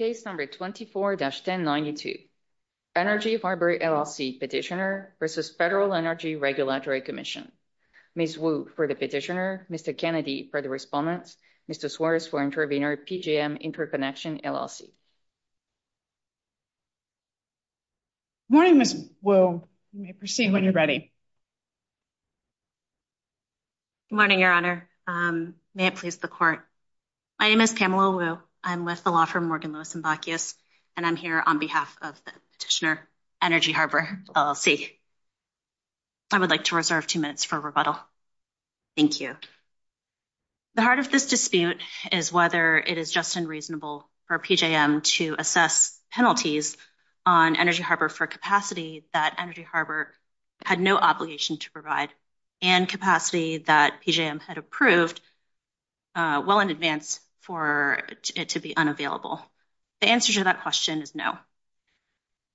24-1092 Energy Harbor, LLC Petitioner v. FEDERAL ENERGY REGULATORY COMMISSION Ms. Wu for the Petitioner, Mr. Kennedy for the Respondent, Mr. Suarez for Intervenor, PJM Interconnection, LLC Good morning, Ms. Wu, you may proceed when you're ready. Good morning, Your Honor, may it please the Court. My name is Pamela Wu, I'm with the law firm Morgan Lewis & Bacchus, and I'm here on behalf of the Petitioner, Energy Harbor, LLC. I would like to reserve two minutes for rebuttal, thank you. The heart of this dispute is whether it is just and reasonable for PJM to assess penalties on Energy Harbor for capacity that Energy Harbor had no obligation to provide, and capacity that PJM had approved well in advance for it to be unavailable. The answer to that question is no.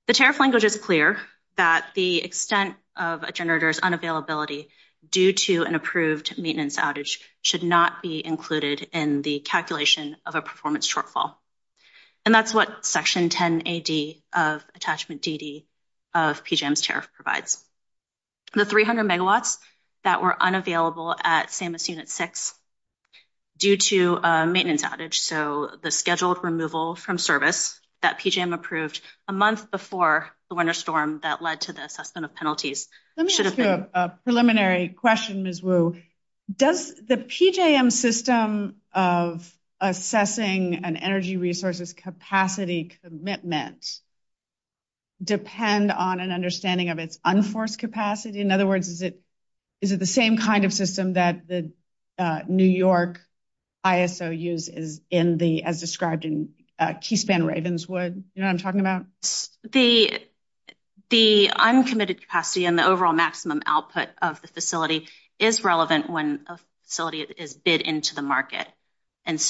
The tariff language is clear that the extent of a generator's unavailability due to an approved maintenance outage should not be included in the calculation of a performance shortfall, and that's what Section 10AD of Attachment DD of PJM's tariff provides. The 300 megawatts that were unavailable at SAMUS Unit 6 due to a maintenance outage, so the scheduled removal from service that PJM approved a month before the winter storm that led to the assessment of penalties should have been- Let me ask you a preliminary question, Ms. Wu. Does the PJM system of assessing an energy resource's capacity commitment depend on an unforced capacity? In other words, is it the same kind of system that the New York ISO uses as described in Keyspan Ravenswood? You know what I'm talking about? The uncommitted capacity and the overall maximum output of the facility is relevant when a facility is bid into the market, and this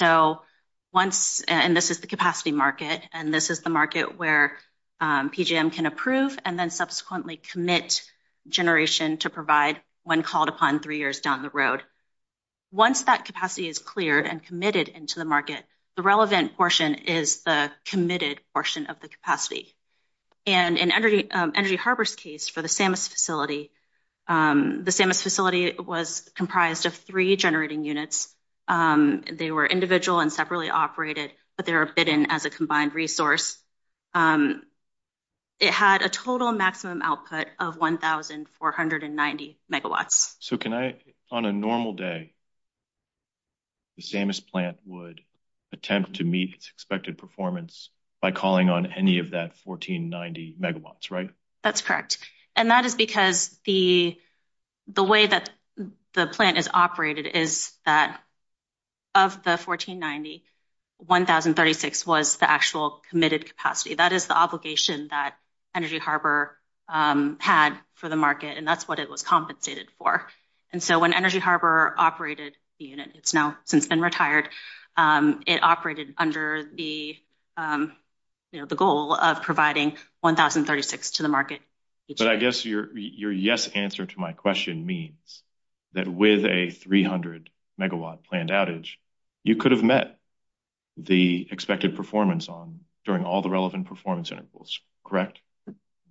is the capacity market, and this is the market where PJM can approve and then subsequently commit generation to provide when called upon three years down the road. Once that capacity is cleared and committed into the market, the relevant portion is the committed portion of the capacity. And in Energy Harbor's case for the SAMUS facility, the SAMUS facility was comprised of three generating units. They were individual and separately operated, but they were bid in as a combined resource. It had a total maximum output of 1,490 megawatts. So can I, on a normal day, the SAMUS plant would attempt to meet its expected performance by calling on any of that 1,490 megawatts, right? That's correct. And that is because the way that the plant is operated is that of the 1,490, 1,036 was the actual committed capacity. That is the obligation that Energy Harbor had for the market, and that's what it was compensated for. And so when Energy Harbor operated the unit, it's now since been retired, it operated under the goal of providing 1,036 to the market. But I guess your yes answer to my question means that with a 300 megawatt planned outage, you could have met the expected performance on during all the relevant performance intervals, correct?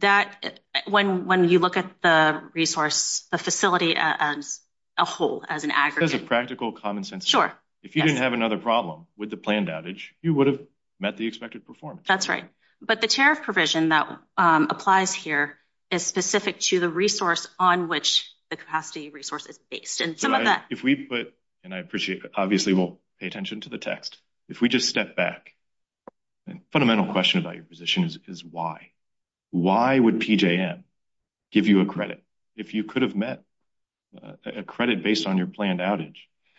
That, when you look at the resource, the facility as a whole, as an aggregate. As a practical common sense. Sure. If you didn't have another problem with the planned outage, you would have met the expected performance. That's right. But the tariff provision that applies here is specific to the resource on which the capacity resource is based. And some of that. If we put, and I appreciate, obviously we'll pay attention to the text. If we just step back, the fundamental question about your position is why? Why would PJM give you a credit if you could have met a credit based on your planned outage?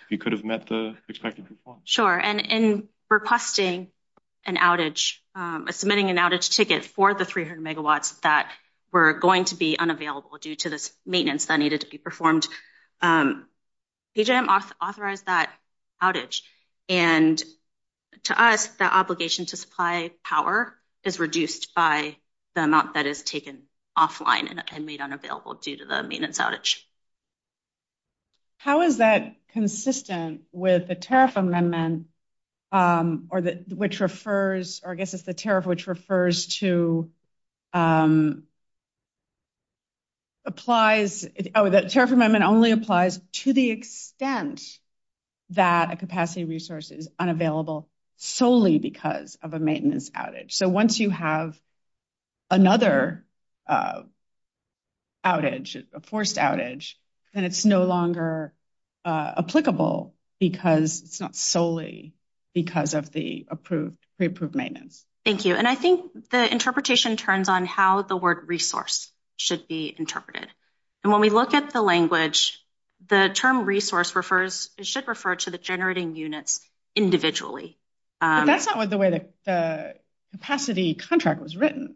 You could have met the expected performance. Sure. And in requesting an outage, submitting an outage ticket for the 300 megawatts that were going to be unavailable due to this maintenance that needed to be performed, PJM authorized that outage. And to us, the obligation to supply power is reduced by the amount that is taken offline and made unavailable due to the maintenance outage. How is that consistent with the tariff amendment, which refers, or I guess it's the tariff which refers to, applies, oh, the tariff amendment only applies to the extent that a capacity resource is unavailable solely because of a maintenance outage. So once you have another outage, a forced outage, then it's no longer applicable because it's not solely because of the approved, pre-approved maintenance. Thank you. And I think the interpretation turns on how the word resource should be interpreted. And when we look at the language, the term resource refers, it should refer to the generating units individually. That's not what the way the capacity contract was written.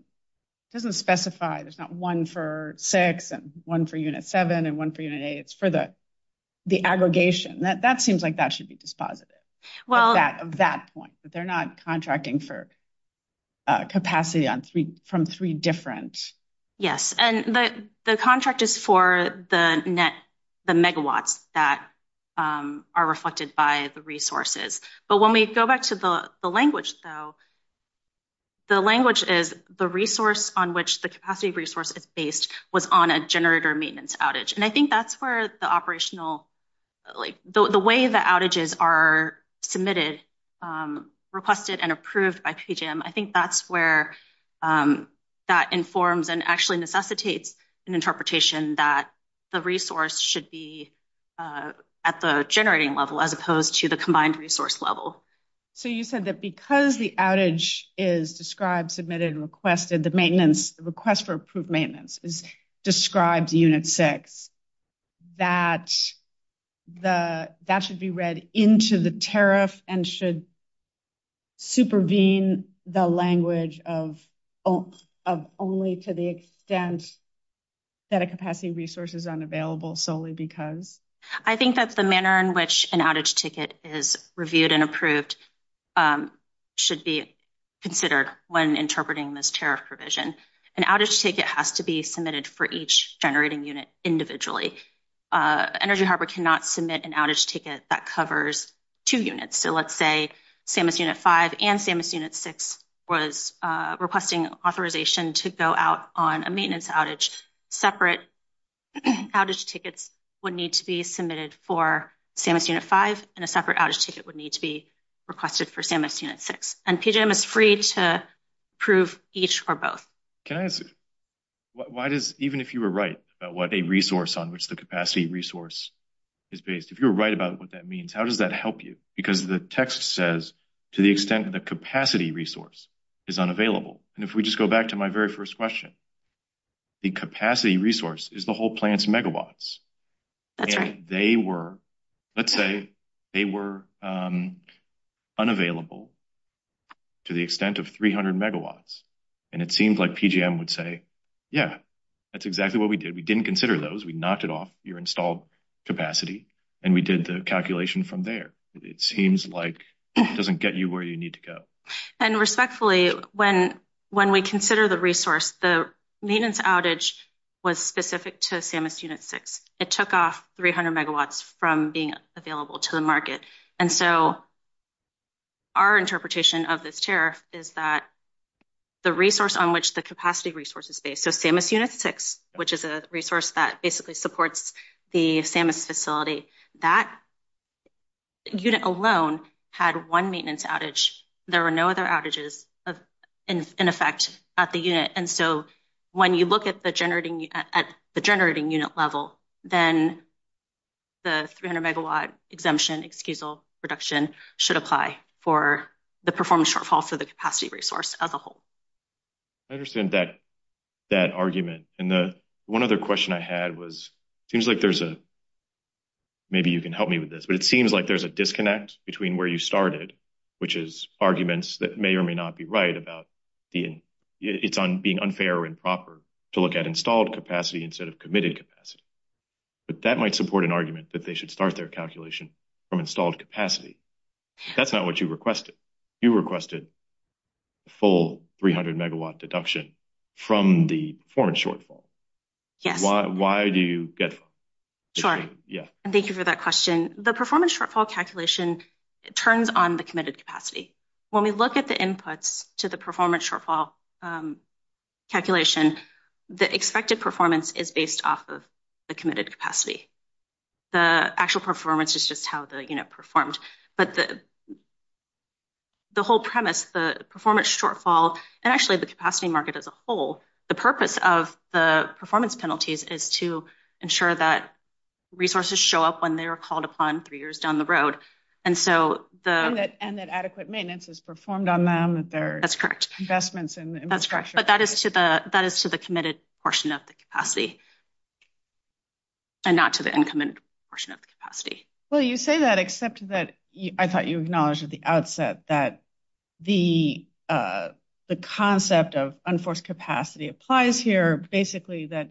It doesn't specify, there's not one for six and one for unit seven and one for unit eight. It's for the aggregation. That seems like that should be dispositive of that point, that they're not contracting for capacity from three different. Yes. And the contract is for the megawatts that are reflected by the resources. But when we go back to the language, though, the language is the resource on which the capacity resource is based was on a generator maintenance outage. And I think that's where the operational, the way the outages are submitted, requested and approved by PJM, I think that's where that informs and actually necessitates an interpretation that the resource should be at the generating level as opposed to the So you said that because the outage is described, submitted and requested, the maintenance request for approved maintenance is described unit six, that should be read into the tariff and should supervene the language of only to the extent that a capacity resource is unavailable solely because? I think that the manner in which an outage ticket is reviewed and approved should be considered when interpreting this tariff provision. An outage ticket has to be submitted for each generating unit individually. Energy Harbor cannot submit an outage ticket that covers two units. So let's say SAMHSA unit five and SAMHSA unit six was requesting authorization to go out on a maintenance outage. Separate outage tickets would need to be submitted for SAMHSA unit five and a separate outage ticket would need to be requested for SAMHSA unit six. And PJM is free to approve each or both. Can I ask, why does, even if you were right about what a resource on which the capacity resource is based, if you're right about what that means, how does that help you? Because the text says to the extent that the capacity resource is unavailable. And if we just go back to my very first question, the capacity resource is the whole plant's megawatts. That's right. They were, let's say they were unavailable to the extent of 300 megawatts. And it seems like PJM would say, yeah, that's exactly what we did. We didn't consider those. We knocked it off your installed capacity and we did the calculation from there. It seems like it doesn't get you where you need to go. And respectfully, when we consider the resource, the maintenance outage was specific to SAMHSA unit six. It took off 300 megawatts from being available to the market. And so our interpretation of this tariff is that the resource on which the capacity resource is based, so SAMHSA unit six, which is a resource that basically supports the SAMHSA facility, that unit alone had one maintenance outage. There were no other outages in effect at the unit. And so when you look at the generating, at the generating unit level, then the 300 megawatt exemption excusal reduction should apply for the performance shortfall for the capacity resource as a whole. I understand that argument. And the one other question I had was, it seems like there's a, maybe you can help me with this, but it seems like there's a disconnect between where you started, which is arguments that may or may not be right about the, it's on being unfair or improper to look at installed capacity instead of committed capacity. But that might support an argument that they should start their calculation from installed capacity. That's not what you requested. You requested full 300 megawatt deduction from the performance shortfall. So why do you get that? Sure. Yeah. And thank you for that question. Performance shortfall calculation turns on the committed capacity. When we look at the inputs to the performance shortfall calculation, the expected performance is based off of the committed capacity. The actual performance is just how the unit performed. But the whole premise, the performance shortfall, and actually the capacity market as a whole, the purpose of the performance penalties is to ensure that resources show up when they are called upon three years down the road. And so the. And that adequate maintenance is performed on them. That's correct. Investments in infrastructure. But that is to the, that is to the committed portion of the capacity. And not to the incoming portion of the capacity. Well, you say that, except that I thought you acknowledged at the outset that the concept of unforced capacity applies here. Basically, that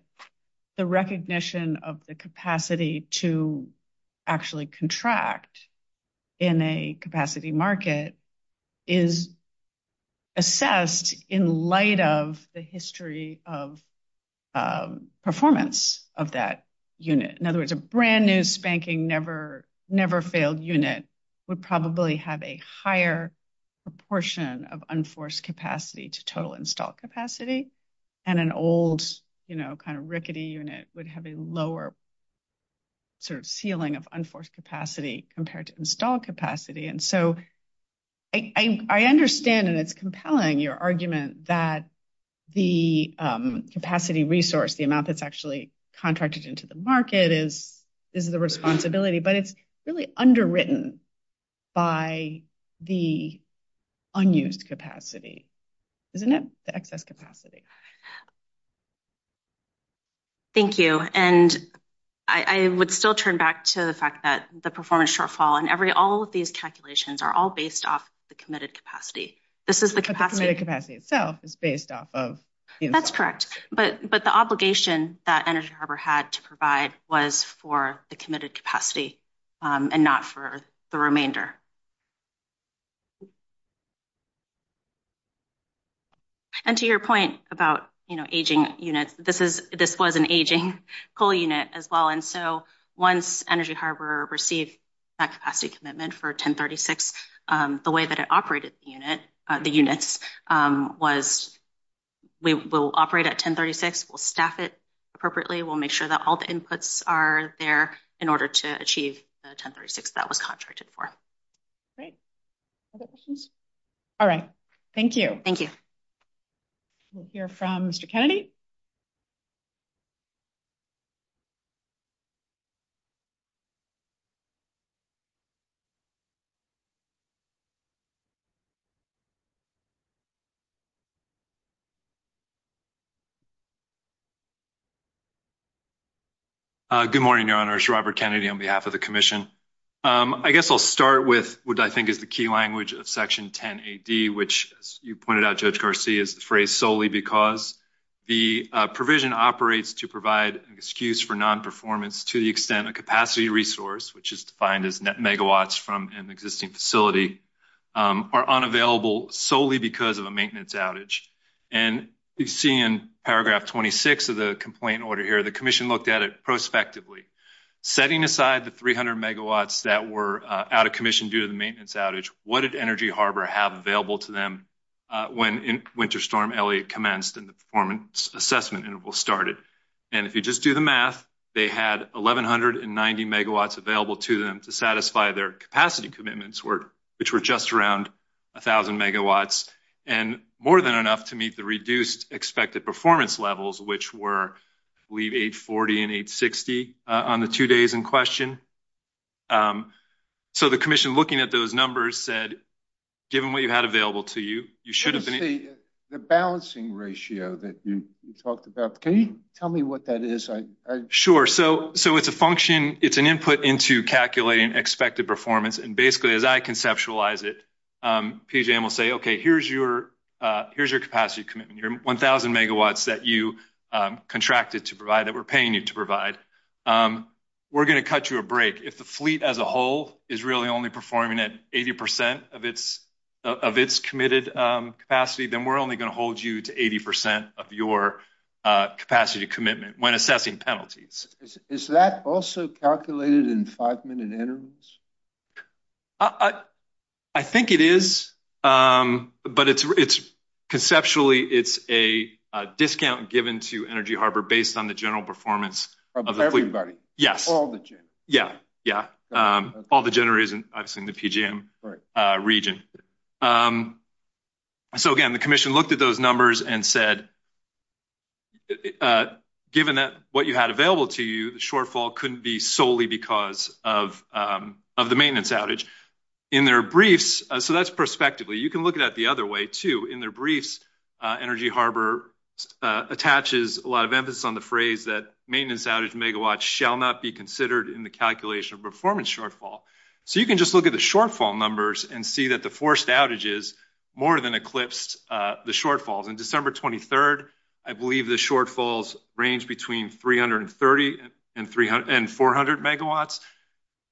the recognition of the capacity to actually contract in a capacity market is assessed in light of the history of performance of that unit. In other words, a brand new spanking, never, never failed unit would probably have a higher proportion of unforced capacity to total install capacity. And an old, you know, kind of rickety unit would have a lower. Sort of ceiling of unforced capacity compared to install capacity. And so I understand and it's compelling your argument that the capacity resource, the amount that's actually contracted into the market is, is the responsibility, but it's really underwritten by the unused capacity, isn't it? The excess capacity. Thank you. And I would still turn back to the fact that the performance shortfall and every, all of these calculations are all based off the committed capacity. This is the capacity. But the committed capacity itself is based off of the install capacity. That's correct. But, but the obligation that Energy Harbor had to provide was for the committed capacity and not for the remainder. And to your point about, you know, aging units, this is, this was an aging coal unit as well. And so once Energy Harbor received that capacity commitment for 1036, the way that it operated the unit, the units was, we will operate at 1036. We'll staff it appropriately. We'll make sure that all the inputs are there in order to achieve the 1036 that was contracted for. Great. All right. Thank you. Thank you. We'll hear from Mr. Kennedy. Good morning, Your Honors. Robert Kennedy on behalf of the commission. I guess I'll start with what I think is the key language of section 10 AD, which as you pointed out, Judge Garcia is the phrase solely because the provision operates to provide an excuse for non-performance to the extent of capacity resource, which is defined as megawatts from an existing facility are unavailable solely because of a maintenance outage. And you see in paragraph 26 of the complaint order here, the commission looked at it prospectively setting aside the 300 megawatts that were out of commission due to the maintenance outage. What did Energy Harbor have available to them? When winter storm Elliot commenced in the performance assessment interval started. And if you just do the math, they had 1190 megawatts available to them to satisfy their capacity commitments, which were just around a thousand megawatts. And more than enough to meet the reduced expected performance levels, which were leave 840 and 860 on the two days in question. So the commission looking at those numbers said, given what you had available to you, you should have been the balancing ratio that you talked about. Can you tell me what that is? Sure. So so it's a function. It's an input into calculating expected performance. And basically, as I conceptualize it, PJ will say, OK, here's your here's your capacity commitment, your 1000 megawatts that you contracted to provide that we're paying you to We're going to cut you a break if the fleet as a whole is really only performing at 80 percent of its of its committed capacity, then we're only going to hold you to 80 percent of your capacity commitment when assessing penalties. Is that also calculated in five minute intervals? I I think it is. But it's it's conceptually it's a discount given to Energy Harbor based on the general performance of everybody. All the. Yeah. Yeah. All the generators and I've seen the PGM region. So, again, the commission looked at those numbers and said. Given that what you had available to you, the shortfall couldn't be solely because of of the maintenance outage in their briefs. So that's perspective. You can look at the other way to in their briefs. Energy Harbor attaches a lot of emphasis on the phrase that maintenance outage megawatts shall not be considered in the calculation of performance shortfall. So you can just look at the shortfall numbers and see that the forced outages more than eclipsed the shortfalls in December 23rd. I believe the shortfalls range between 330 and 300 and 400 megawatts.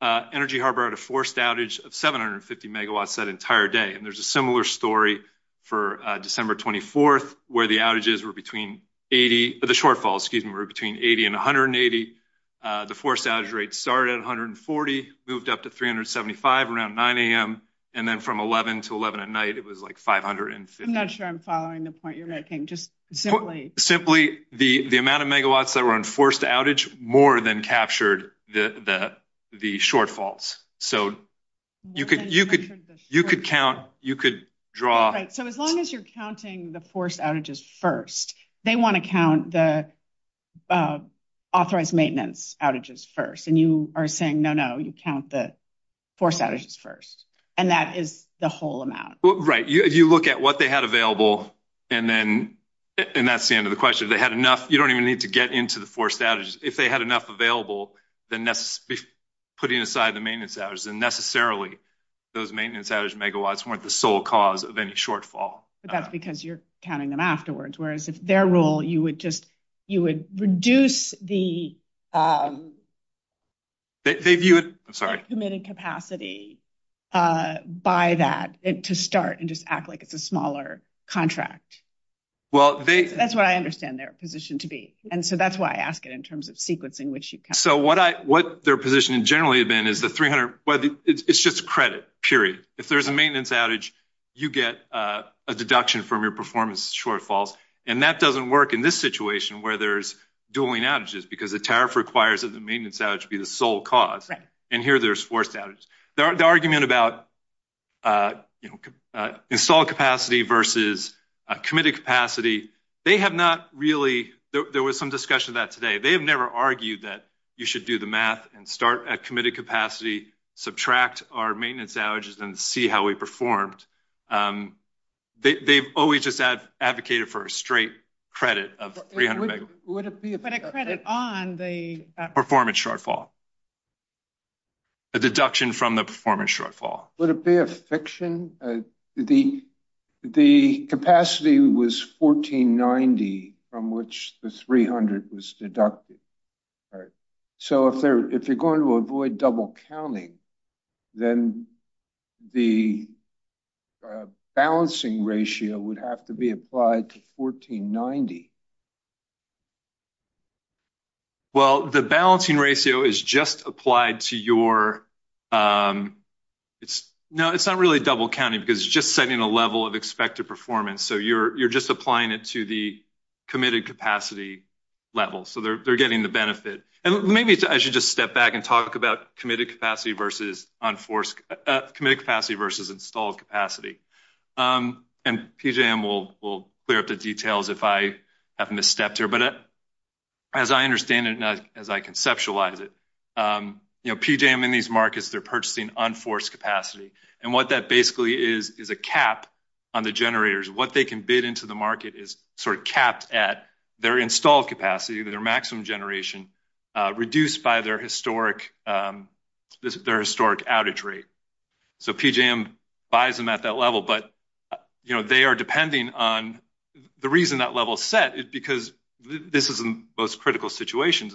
Energy Harbor had a forced outage of 750 megawatts that entire day. And there's a similar story for December 24th, where the outages were between 80, the shortfalls, excuse me, were between 80 and 180. The forced outage rate started at 140, moved up to 375 around 9 a.m. And then from 11 to 11 at night, it was like five hundred and I'm not sure I'm following the point you're making. Just simply simply the the amount of megawatts that were enforced outage more than captured the the shortfalls. So you could you could you could count. You could draw. So as long as you're counting the forced outages first, they want to count the authorized maintenance outages first. And you are saying, no, no, you count the forced outages first. And that is the whole amount. Right. You look at what they had available and then and that's the end of the question. They had enough. You don't even need to get into the forced outages. If they had enough available, then putting aside the maintenance hours and necessarily those maintenance outage megawatts weren't the sole cause of any shortfall. But that's because you're counting them afterwards, whereas if their role, you would just you would reduce the. They view it, I'm sorry, committed capacity by that to start and just act like it's a smaller contract. Well, that's what I understand their position to be. And so that's why I ask it in terms of sequencing, which you. So what I what their position in generally have been is the 300. Well, it's just credit, period. If there's a maintenance outage, you get a deduction from your performance shortfalls. And that doesn't work in this situation where there's dueling outages. Because the tariff requires that the maintenance outage be the sole cause. And here there's forced outages. The argument about installed capacity versus committed capacity. They have not really. There was some discussion about today. They have never argued that you should do the math and start at committed capacity, subtract our maintenance outages and see how we performed. They've always just advocated for a straight credit of 300. Would it be a credit on the performance shortfall? A deduction from the performance shortfall? Would it be a fiction? The capacity was 1490 from which the 300 was deducted. All right. So if you're going to avoid double counting, then the balancing ratio would have to be applied to 1490. Well, the balancing ratio is just applied to your. It's not really double counting because it's just setting a level of expected performance. So you're just applying it to the committed capacity level. So they're getting the benefit. And maybe I should just step back and talk about committed capacity versus installed capacity. And PJM will clear up the details if I have misstepped here. As I understand it and as I conceptualize it, PJM in these markets, they're purchasing unforced capacity. And what that basically is is a cap on the generators. What they can bid into the market is sort of capped at their installed capacity, their maximum generation, reduced by their historic outage rate. So PJM buys them at that level. But they are depending on the reason that level is set is because this is the most critical situation,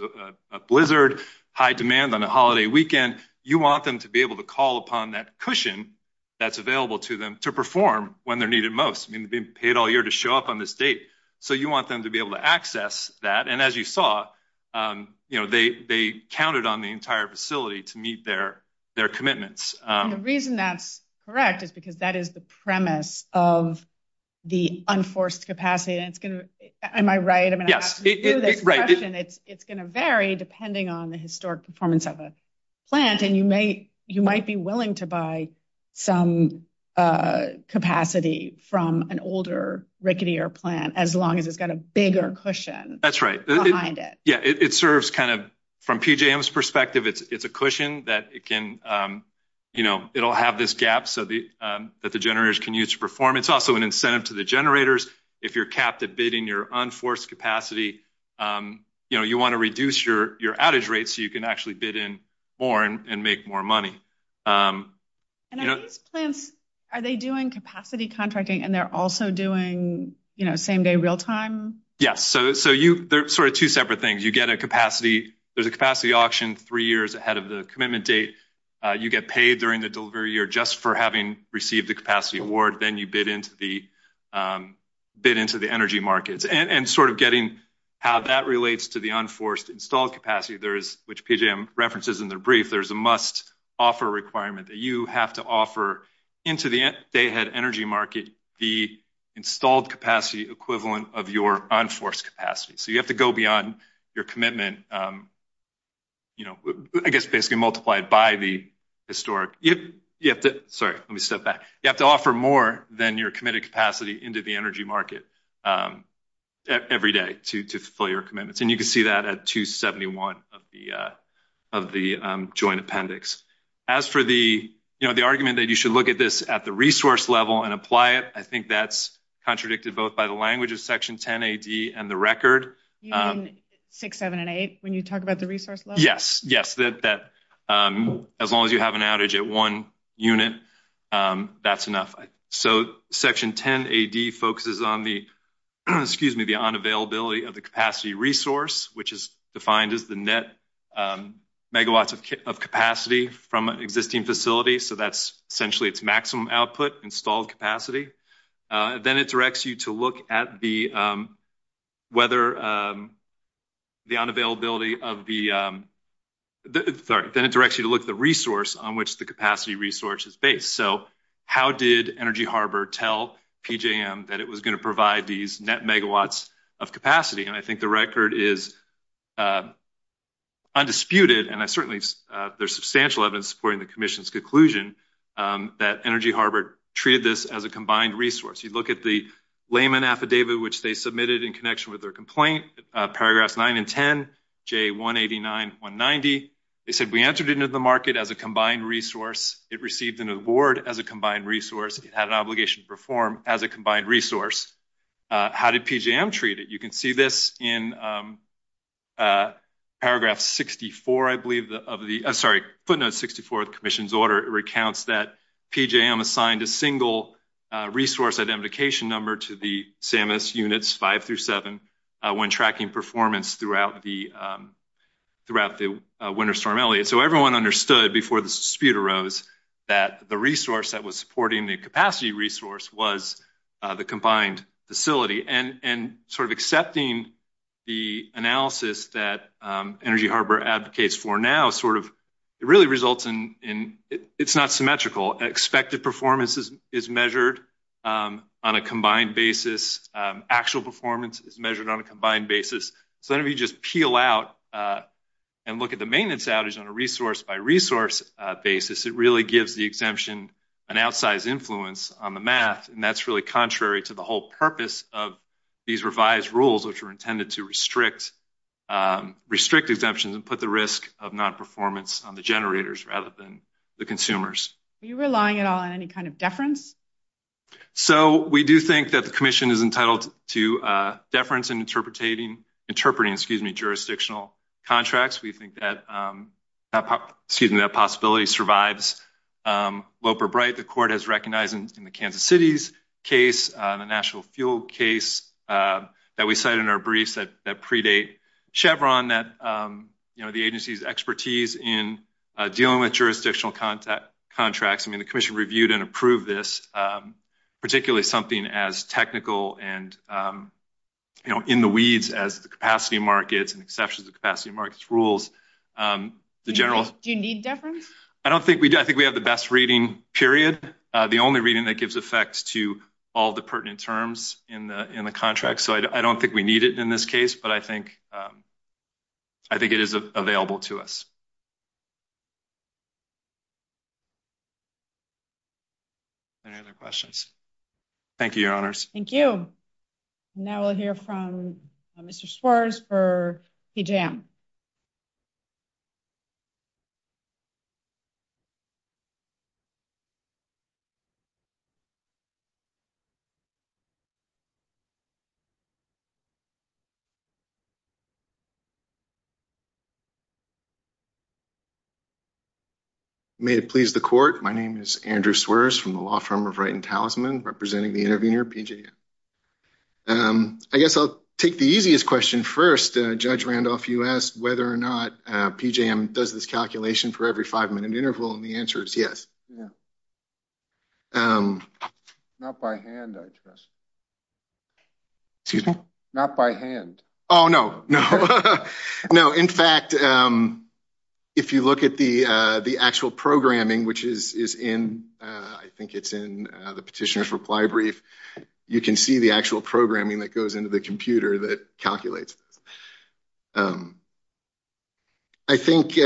a blizzard, high demand on a holiday weekend. You want them to be able to call upon that cushion that's available to them to perform when they're needed most. I mean, they've been paid all year to show up on this date. So you want them to be able to access that. And as you saw, they counted on the entire facility to meet their commitments. The reason that's correct is because that is the premise of the unforced capacity. And it's going to, am I right? I mean, it's going to vary depending on the historic performance of a plant. And you might be willing to buy some capacity from an older rickety or plant as long as it's got a bigger cushion. That's right. Behind it. Yeah, it serves kind of from PJM's perspective, it's a cushion that it can it'll have this gap so that the generators can use to perform. It's also an incentive to the generators. If you're capped at bidding your unforced capacity, you want to reduce your outage rates so you can actually bid in more and make more money. And are these plants, are they doing capacity contracting and they're also doing same day real time? Yes. So they're sort of two separate things. You get a capacity, there's a capacity auction three years ahead of the commitment date. You get paid during the delivery year just for having received the capacity award. Then you bid into the bid into the energy markets and sort of getting how that relates to the unforced installed capacity. There is, which PJM references in their brief, there's a must offer requirement that you have to offer into the day ahead energy market, the installed capacity equivalent of your unforced capacity. So you have to go beyond your commitment, I guess basically multiplied by the historic. Sorry, let me step back. You have to offer more than your committed capacity into the energy market every day to fulfill your commitments. And you can see that at 271 of the joint appendix. As for the argument that you should look at this at the resource level and apply it, I think that's contradicted both by the language of section 10 AD and the record. You mean 6, 7, and 8 when you talk about the resource level? Yes. Yes, that as long as you have an outage at one unit, that's enough. So section 10 AD focuses on the, excuse me, the unavailability of the capacity resource, which is defined as the net megawatts of capacity from an existing facility. So that's essentially its maximum output installed capacity. Then it directs you to look at the whether the unavailability of the, sorry, then it directs you to look at the resource on which the capacity resource is based. So how did Energy Harbor tell PJM that it was going to provide these net megawatts of capacity? And I think the record is undisputed. And certainly there's substantial evidence supporting the commission's conclusion that Energy Harbor treated this as a combined resource. You look at the layman affidavit, which they submitted in connection with their complaint, paragraphs 9 and 10, J189, 190. They said, we entered into the market as a combined resource. It received an award as a combined resource. It had an obligation to perform as a combined resource. How did PJM treat it? You can see this in paragraph 64, I believe, of the, sorry, footnote 64 of the commission's order. It recounts that PJM assigned a single resource identification number to the CMS units 5 through 7 when tracking performance throughout the winter storm Elliott. So everyone understood before the dispute arose that the resource that was supporting the capacity resource was the combined facility. And sort of accepting the analysis that Energy Harbor advocates for now sort of, it really results in, it's not symmetrical. Expected performance is measured on a combined basis. Actual performance is measured on a combined basis. So if you just peel out and look at the maintenance outage on a resource by resource basis, it gives the exemption an outsized influence on the math, and that's really contrary to the whole purpose of these revised rules, which were intended to restrict exemptions and put the risk of nonperformance on the generators rather than the consumers. Are you relying at all on any kind of deference? So we do think that the commission is entitled to deference in interpreting jurisdictional contracts. We think that, excuse me, that possibility survives. Loper-Bright, the court has recognized in the Kansas City's case, the national fuel case that we cite in our briefs that predate Chevron that the agency's expertise in dealing with jurisdictional contracts, I mean, the commission reviewed and approved this, particularly something as technical and, you know, in the weeds as the capacity markets and exceptions of capacity markets rules, the general... Do you need deference? I don't think we do. I think we have the best reading, period. The only reading that gives effect to all the pertinent terms in the contract. So I don't think we need it in this case, but I think it is available to us. Any other questions? Thank you, Your Honors. Thank you. Now we'll hear from Mr. Sweres for PJM. May it please the court. My name is Andrew Sweres from the law firm of Wright and Talisman, representing the intervener, PJM. I guess I'll take the easiest question first. Judge Randolph, you asked whether or not PJM does this calculation for every five-minute interval, and the answer is yes. Not by hand, I trust. Excuse me? Not by hand. Oh, no, no. No, in fact, if you look at the actual programming, which is in, I think it's in the petitioner's reply brief, you can see the actual programming that goes into the computer that calculates this. I think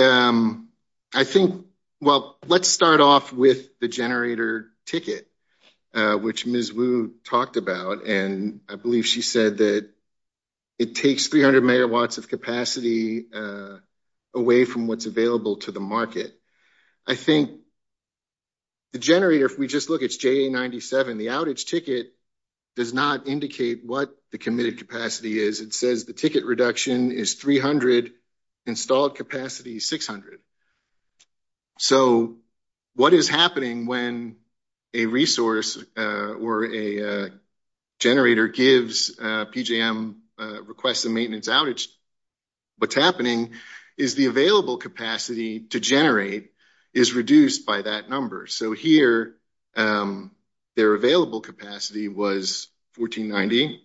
– well, let's start off with the generator ticket, which Ms. Wu talked about, and I believe she said that it takes 300 megawatts of capacity away from what's available to the market. I think the generator, if we just look, it's JA97. The outage ticket does not indicate what the committed capacity is. It says the ticket reduction is 300, installed capacity 600. So what is happening when a resource or a generator gives PJM a request of maintenance outage, what's happening is the available capacity to generate is reduced by that number. So here, their available capacity was 1490.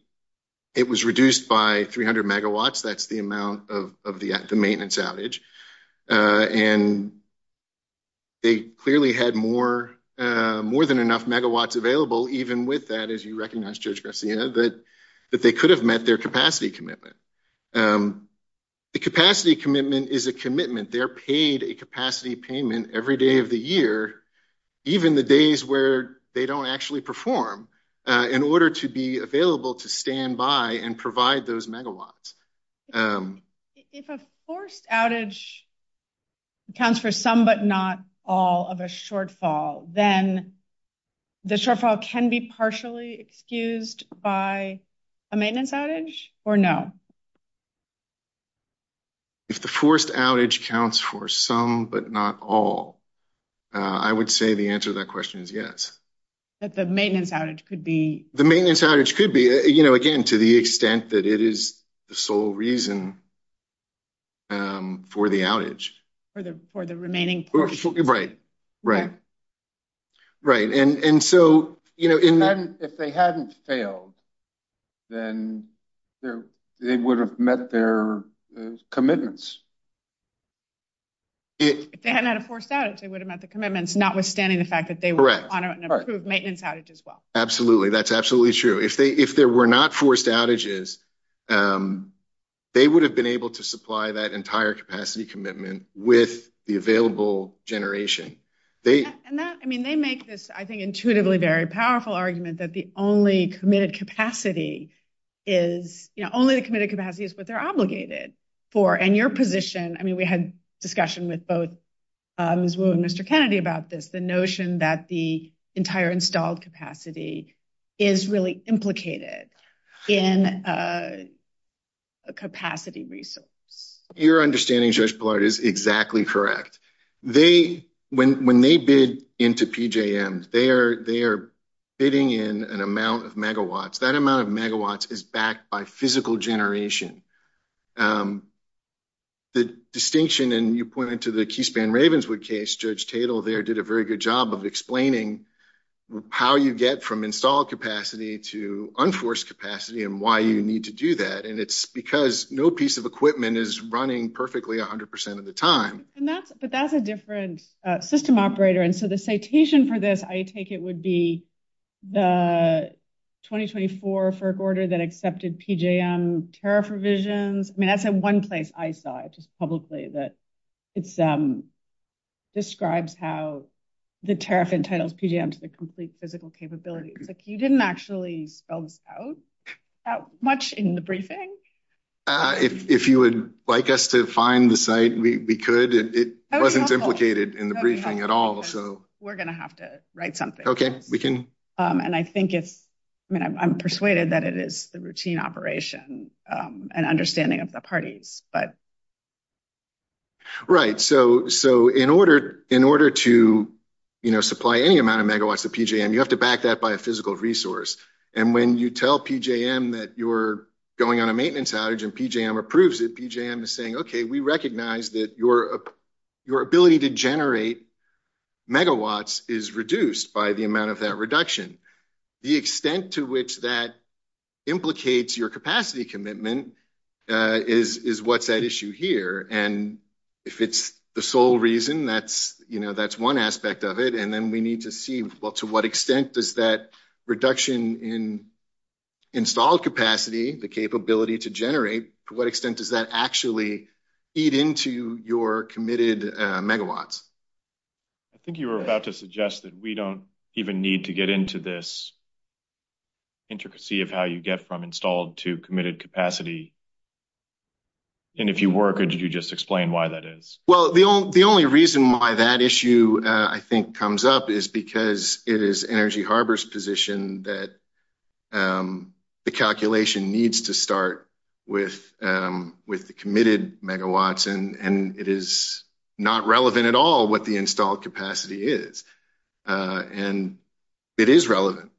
It was reduced by 300 megawatts. That's the amount of the maintenance outage, and they clearly had more than enough megawatts available, even with that, as you recognize, Judge Garcia, that they could have met their capacity commitment. The capacity commitment is a commitment. They're paid a capacity payment every day of the year, even the days where they don't actually perform, in order to be available to stand by and provide those megawatts. If a forced outage accounts for some but not all of a shortfall, then the shortfall can be partially excused by a maintenance outage or no? If the forced outage counts for some but not all, I would say the answer to that question is yes. That the maintenance outage could be? The maintenance outage could be, again, to the extent that it is the sole reason for the outage. For the remaining portion. Right, right. Right, and so if they hadn't failed, then they would have met their commitments. If they hadn't had a forced outage, they would have met the commitments, notwithstanding the fact that they were on an approved maintenance outage as well. Absolutely. That's absolutely true. If there were not forced outages, they would have been able to supply that entire capacity commitment with the available generation. And that, I mean, they make this, I think, intuitively very powerful argument that the only committed capacity is, you know, only the committed capacity is what they're obligated for. And your position, I mean, we had discussion with both Ms. Wu and Mr. Kennedy about this, the notion that the entire installed capacity is really implicated in a capacity resource. Your understanding, Judge Pillard, is exactly correct. They, when they bid into PJM, they are bidding in an amount of megawatts. That amount of megawatts is backed by physical generation. The distinction, and you pointed to the Keyspan Ravenswood case, Judge Tatel there did a very good job of explaining how you get from installed capacity to unforced capacity and why you need to do that. And it's because no piece of equipment is running perfectly 100% of the time. And that's, but that's a different system operator. And so the citation for this, I take it would be the 2024 FERC order that accepted PJM tariff revisions. I mean, that's a one place I saw it just publicly that it's describes how the tariff entitles PJM to the complete physical capability. It's like you didn't actually spell this out that much in the briefing. If you would like us to find the site, we could. It wasn't implicated in the briefing at all, so. We're going to have to write something. Okay, we can. And I think it's, I mean, I'm persuaded that it is the routine operation and understanding of the parties, but. Right. So, so in order, in order to, you know, supply any amount of megawatts to PJM, you have to back that by a physical resource. And when you tell PJM that you're going on a maintenance outage and PJM approves it, PJM is saying, okay, we recognize that your ability to generate megawatts is reduced by the amount of that reduction. The extent to which that implicates your capacity commitment is what's at issue here. And if it's the sole reason that's, you know, that's one aspect of it. Then we need to see, well, to what extent does that reduction in installed capacity, the capability to generate, to what extent does that actually feed into your committed megawatts? I think you were about to suggest that we don't even need to get into this intricacy of how you get from installed to committed capacity. And if you were, could you just explain why that is? Well, the only reason why that issue, I think, comes up is because it is Energy Harbor's position that the calculation needs to start with the committed megawatts, and it is not relevant at all what the installed capacity is. And it is relevant,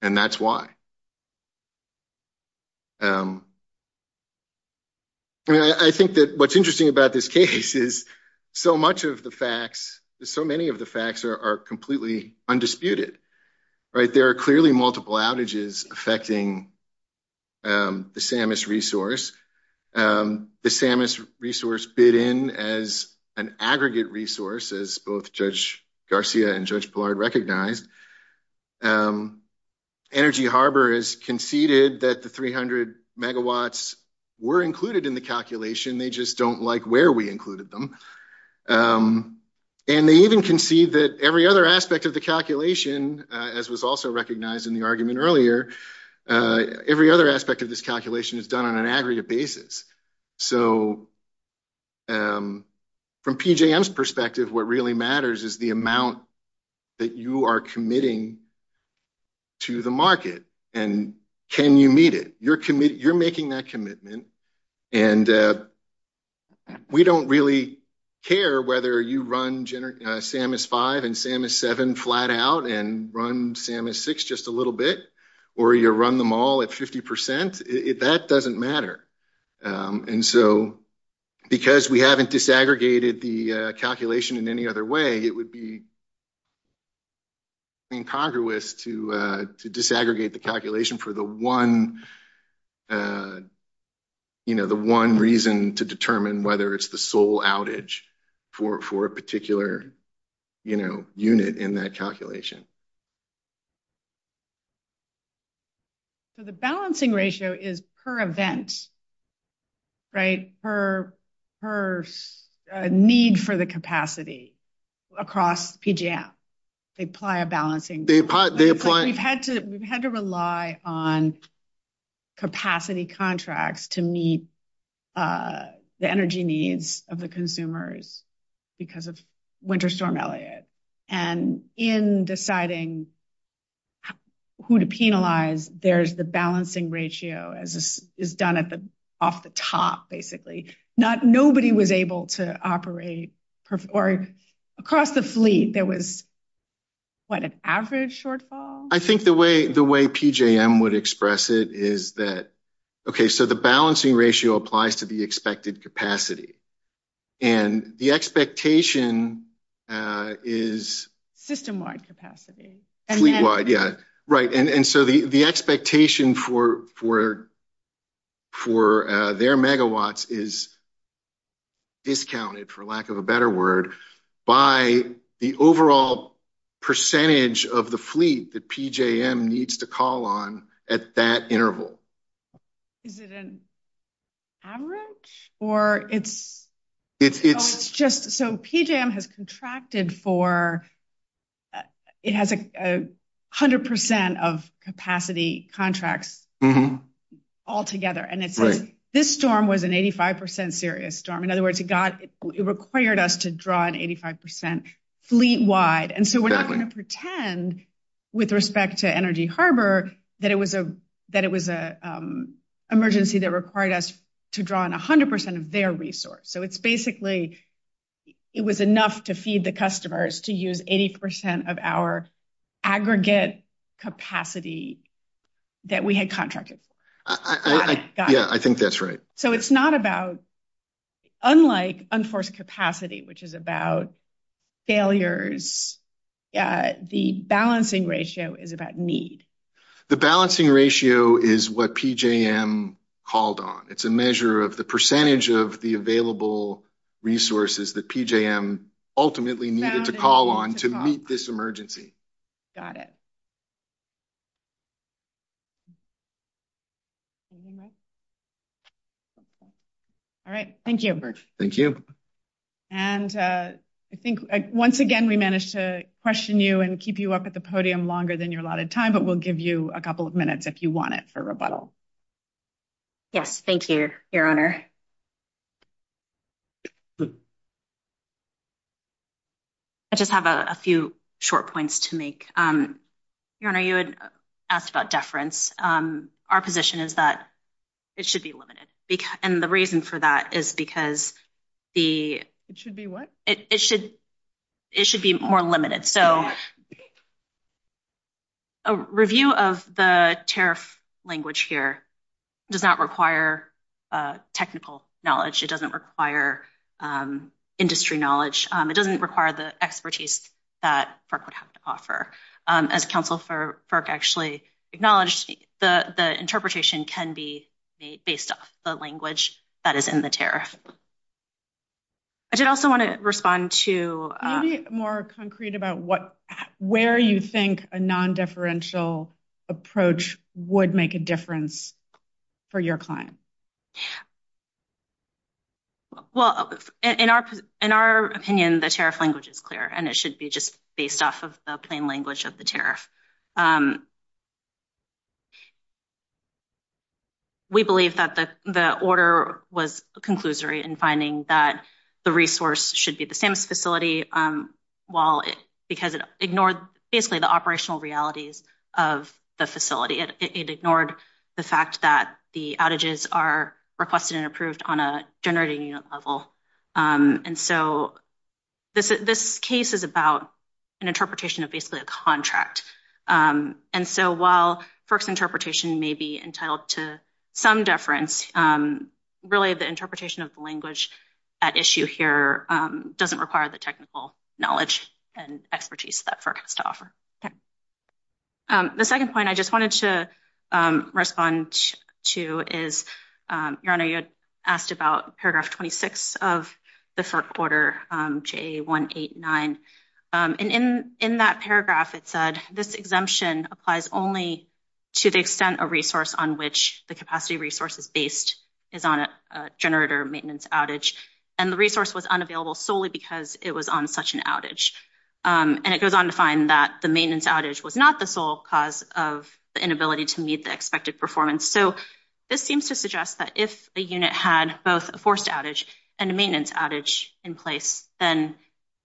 and that's why. I mean, I think that what's interesting about this case is so much of the facts, so many of the facts are completely undisputed, right? There are clearly multiple outages affecting the SAMIS resource. The SAMIS resource bid in as an aggregate resource, as both Judge Garcia and Judge Energy Harbor has conceded that the 300 megawatts were included in the calculation. They just don't like where we included them. And they even concede that every other aspect of the calculation, as was also recognized in the argument earlier, every other aspect of this calculation is done on an aggregate basis. So from PJM's perspective, what really matters is the amount that you are committing to the market, and can you meet it? You're making that commitment, and we don't really care whether you run SAMIS-5 and SAMIS-7 flat out and run SAMIS-6 just a little bit, or you run them all at 50 percent. That doesn't matter. And so because we haven't disaggregated the calculation in any other way, it would be incongruous to disaggregate the calculation for the one reason to determine whether it's the sole outage for a particular unit in that calculation. So the balancing ratio is per event, right? Per need for the capacity across PJM. They apply a balancing. We've had to rely on capacity contracts to meet the energy needs of the consumers because of winter storm Elliott. And in deciding who to penalize, there's the balancing ratio as is done off the top, basically. Nobody was able to operate, or across the fleet, there was, what, an average shortfall? I think the way PJM would express it is that, okay, so the balancing ratio applies to the expected capacity. And the expectation is… System-wide capacity. Fleet-wide, yeah. Right. And so the expectation for their megawatts is discounted, for lack of a better word, by the overall percentage of the fleet that PJM needs to call on at that interval. Is it an average? Or it's just… So PJM has contracted for… It has 100% of capacity contracts all together. And it says this storm was an 85% serious storm. In other words, it required us to draw an 85% fleet-wide. And so we're not going to pretend, with respect to Energy Harbor, that it was an emergency that required us to draw on 100% of their resource. So it's basically… It was enough to feed the customers to use 80% of our aggregate capacity that we had contracted for. Yeah, I think that's right. So it's not about… Unlike unforced capacity, which is about failures, the balancing ratio is about need. The balancing ratio is what PJM called on. It's a measure of the percentage of the available resources that PJM ultimately needed to call on to meet this emergency. Got it. All right. Thank you. Thank you. And I think, once again, we managed to question you and keep you up at the podium longer than your allotted time, but we'll give you a couple of minutes if you want it for rebuttal. Yes, thank you, Your Honor. I just have a few short points to make. Your Honor, you had asked about deference. Our position is that it should be limited, and the reason for that is because the… It should be what? It should be more limited. So a review of the tariff language here does not require technical knowledge. It doesn't require industry knowledge. It doesn't require the expertise that FERC would have to offer. As counsel for FERC actually acknowledged, the interpretation can be based off the language that is in the tariff. I did also want to respond to… Maybe more concrete about where you think a non-deferential approach would make a difference for your client. Well, in our opinion, the tariff language is clear, and it should be just based off of plain language of the tariff. We believe that the order was a conclusory in finding that the resource should be the SAMHSA facility because it ignored basically the operational realities of the facility. It ignored the fact that the outages are requested and approved on a generating unit level. And so this case is about an interpretation of basically a contract. And so while FERC's interpretation may be entitled to some deference, really the interpretation of the language at issue here doesn't require the technical knowledge and expertise that FERC has to offer. Okay. The second point I just wanted to respond to is, Your Honor, you had asked about paragraph 26 of the FERC order, JA189. And in that paragraph, it said, this exemption applies only to the extent a resource on which the capacity resource is based is on a generator maintenance outage. And the resource was unavailable solely because it was on such an outage. And it goes on to find that the maintenance outage was not the sole cause of the inability to meet the expected performance. So this seems to suggest that if a unit had both a forced outage and a maintenance outage in place, then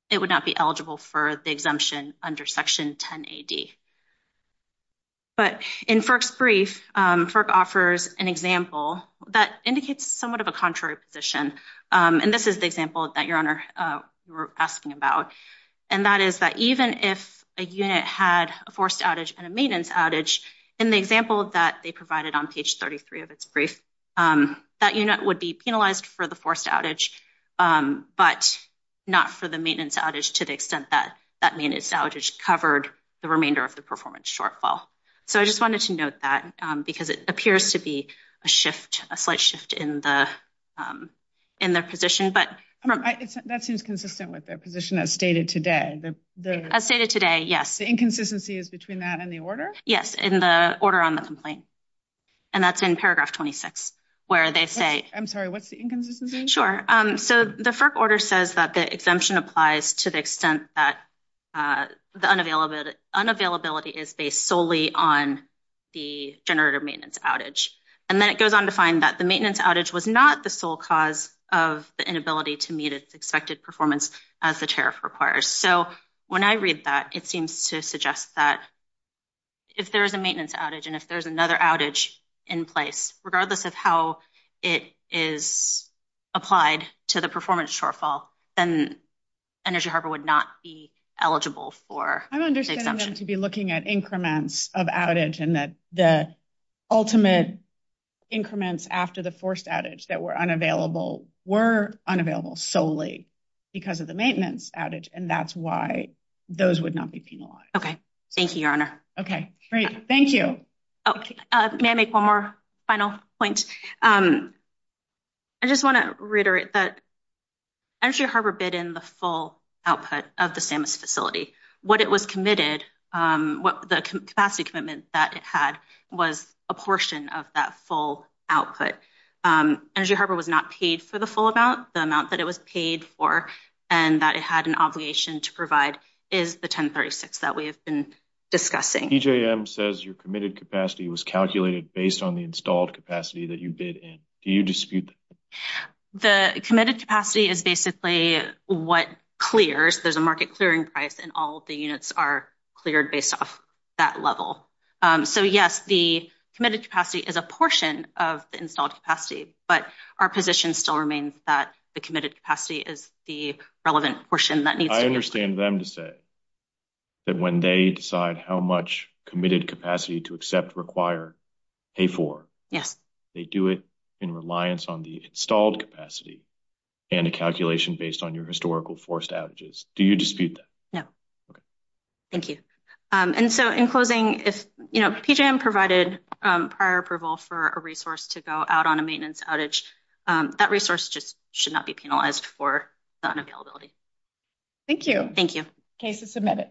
it would not be eligible for the exemption under Section 10AD. But in FERC's brief, FERC offers an example that indicates somewhat of a contrary position. And this is the example that, Your Honor, you were asking about. And that is that even if a unit had a forced outage and a maintenance outage, in the example that they provided on page 33 of its brief, that unit would be penalized for the forced outage, but not for the maintenance outage to the extent that that maintenance outage covered the remainder of the performance shortfall. So I just wanted to note that because it appears to be a shift, a slight shift in the position. That seems consistent with the position as stated today. As stated today, yes. The inconsistency is between that and the order? Yes, in the order on the complaint. And that's in paragraph 26, where they say... I'm sorry, what's the inconsistency? Sure. So the FERC order says that the exemption applies to the extent that the unavailability is based solely on the generator maintenance outage. And then it goes on to find that the maintenance outage was not the sole cause of the inability to meet its expected performance as the tariff requires. So when I read that, it seems to suggest that if there is a maintenance outage and if there's another outage in place, regardless of how it is applied to the performance shortfall, then Energy Harbor would not be eligible for the exemption. I'm understanding them to be looking at increments of outage and that the ultimate increments after the forced outage that were unavailable were unavailable solely because of the maintenance outage, and that's why those would not be penalized. Thank you, Your Honor. Okay, great. Thank you. May I make one more final point? I just want to reiterate that Energy Harbor bid in the full output of the SAMHSA facility. What it was committed... The capacity commitment that it had was a portion of that full output. Energy Harbor was not paid for the full amount. The amount that it was paid for and that it had an obligation to provide is the 1036 that we have been discussing. PJM says your committed capacity was calculated based on the installed capacity that you bid in. Do you dispute that? The committed capacity is basically what clears. There's a market clearing price and all the units are cleared based off that level. So, yes, the committed capacity is a portion of the installed capacity, but our position still remains that the committed capacity is the relevant portion that needs to be... I understand them to say that when they decide how much committed capacity to accept, require, pay for, they do it in reliance on the installed capacity and a calculation based on your historical forced outages. Do you dispute that? Thank you. And so, in closing, if PJM provided prior approval for a resource to go out on a maintenance outage, that resource just should not be penalized for the unavailability. Thank you. Thank you. Case is submitted.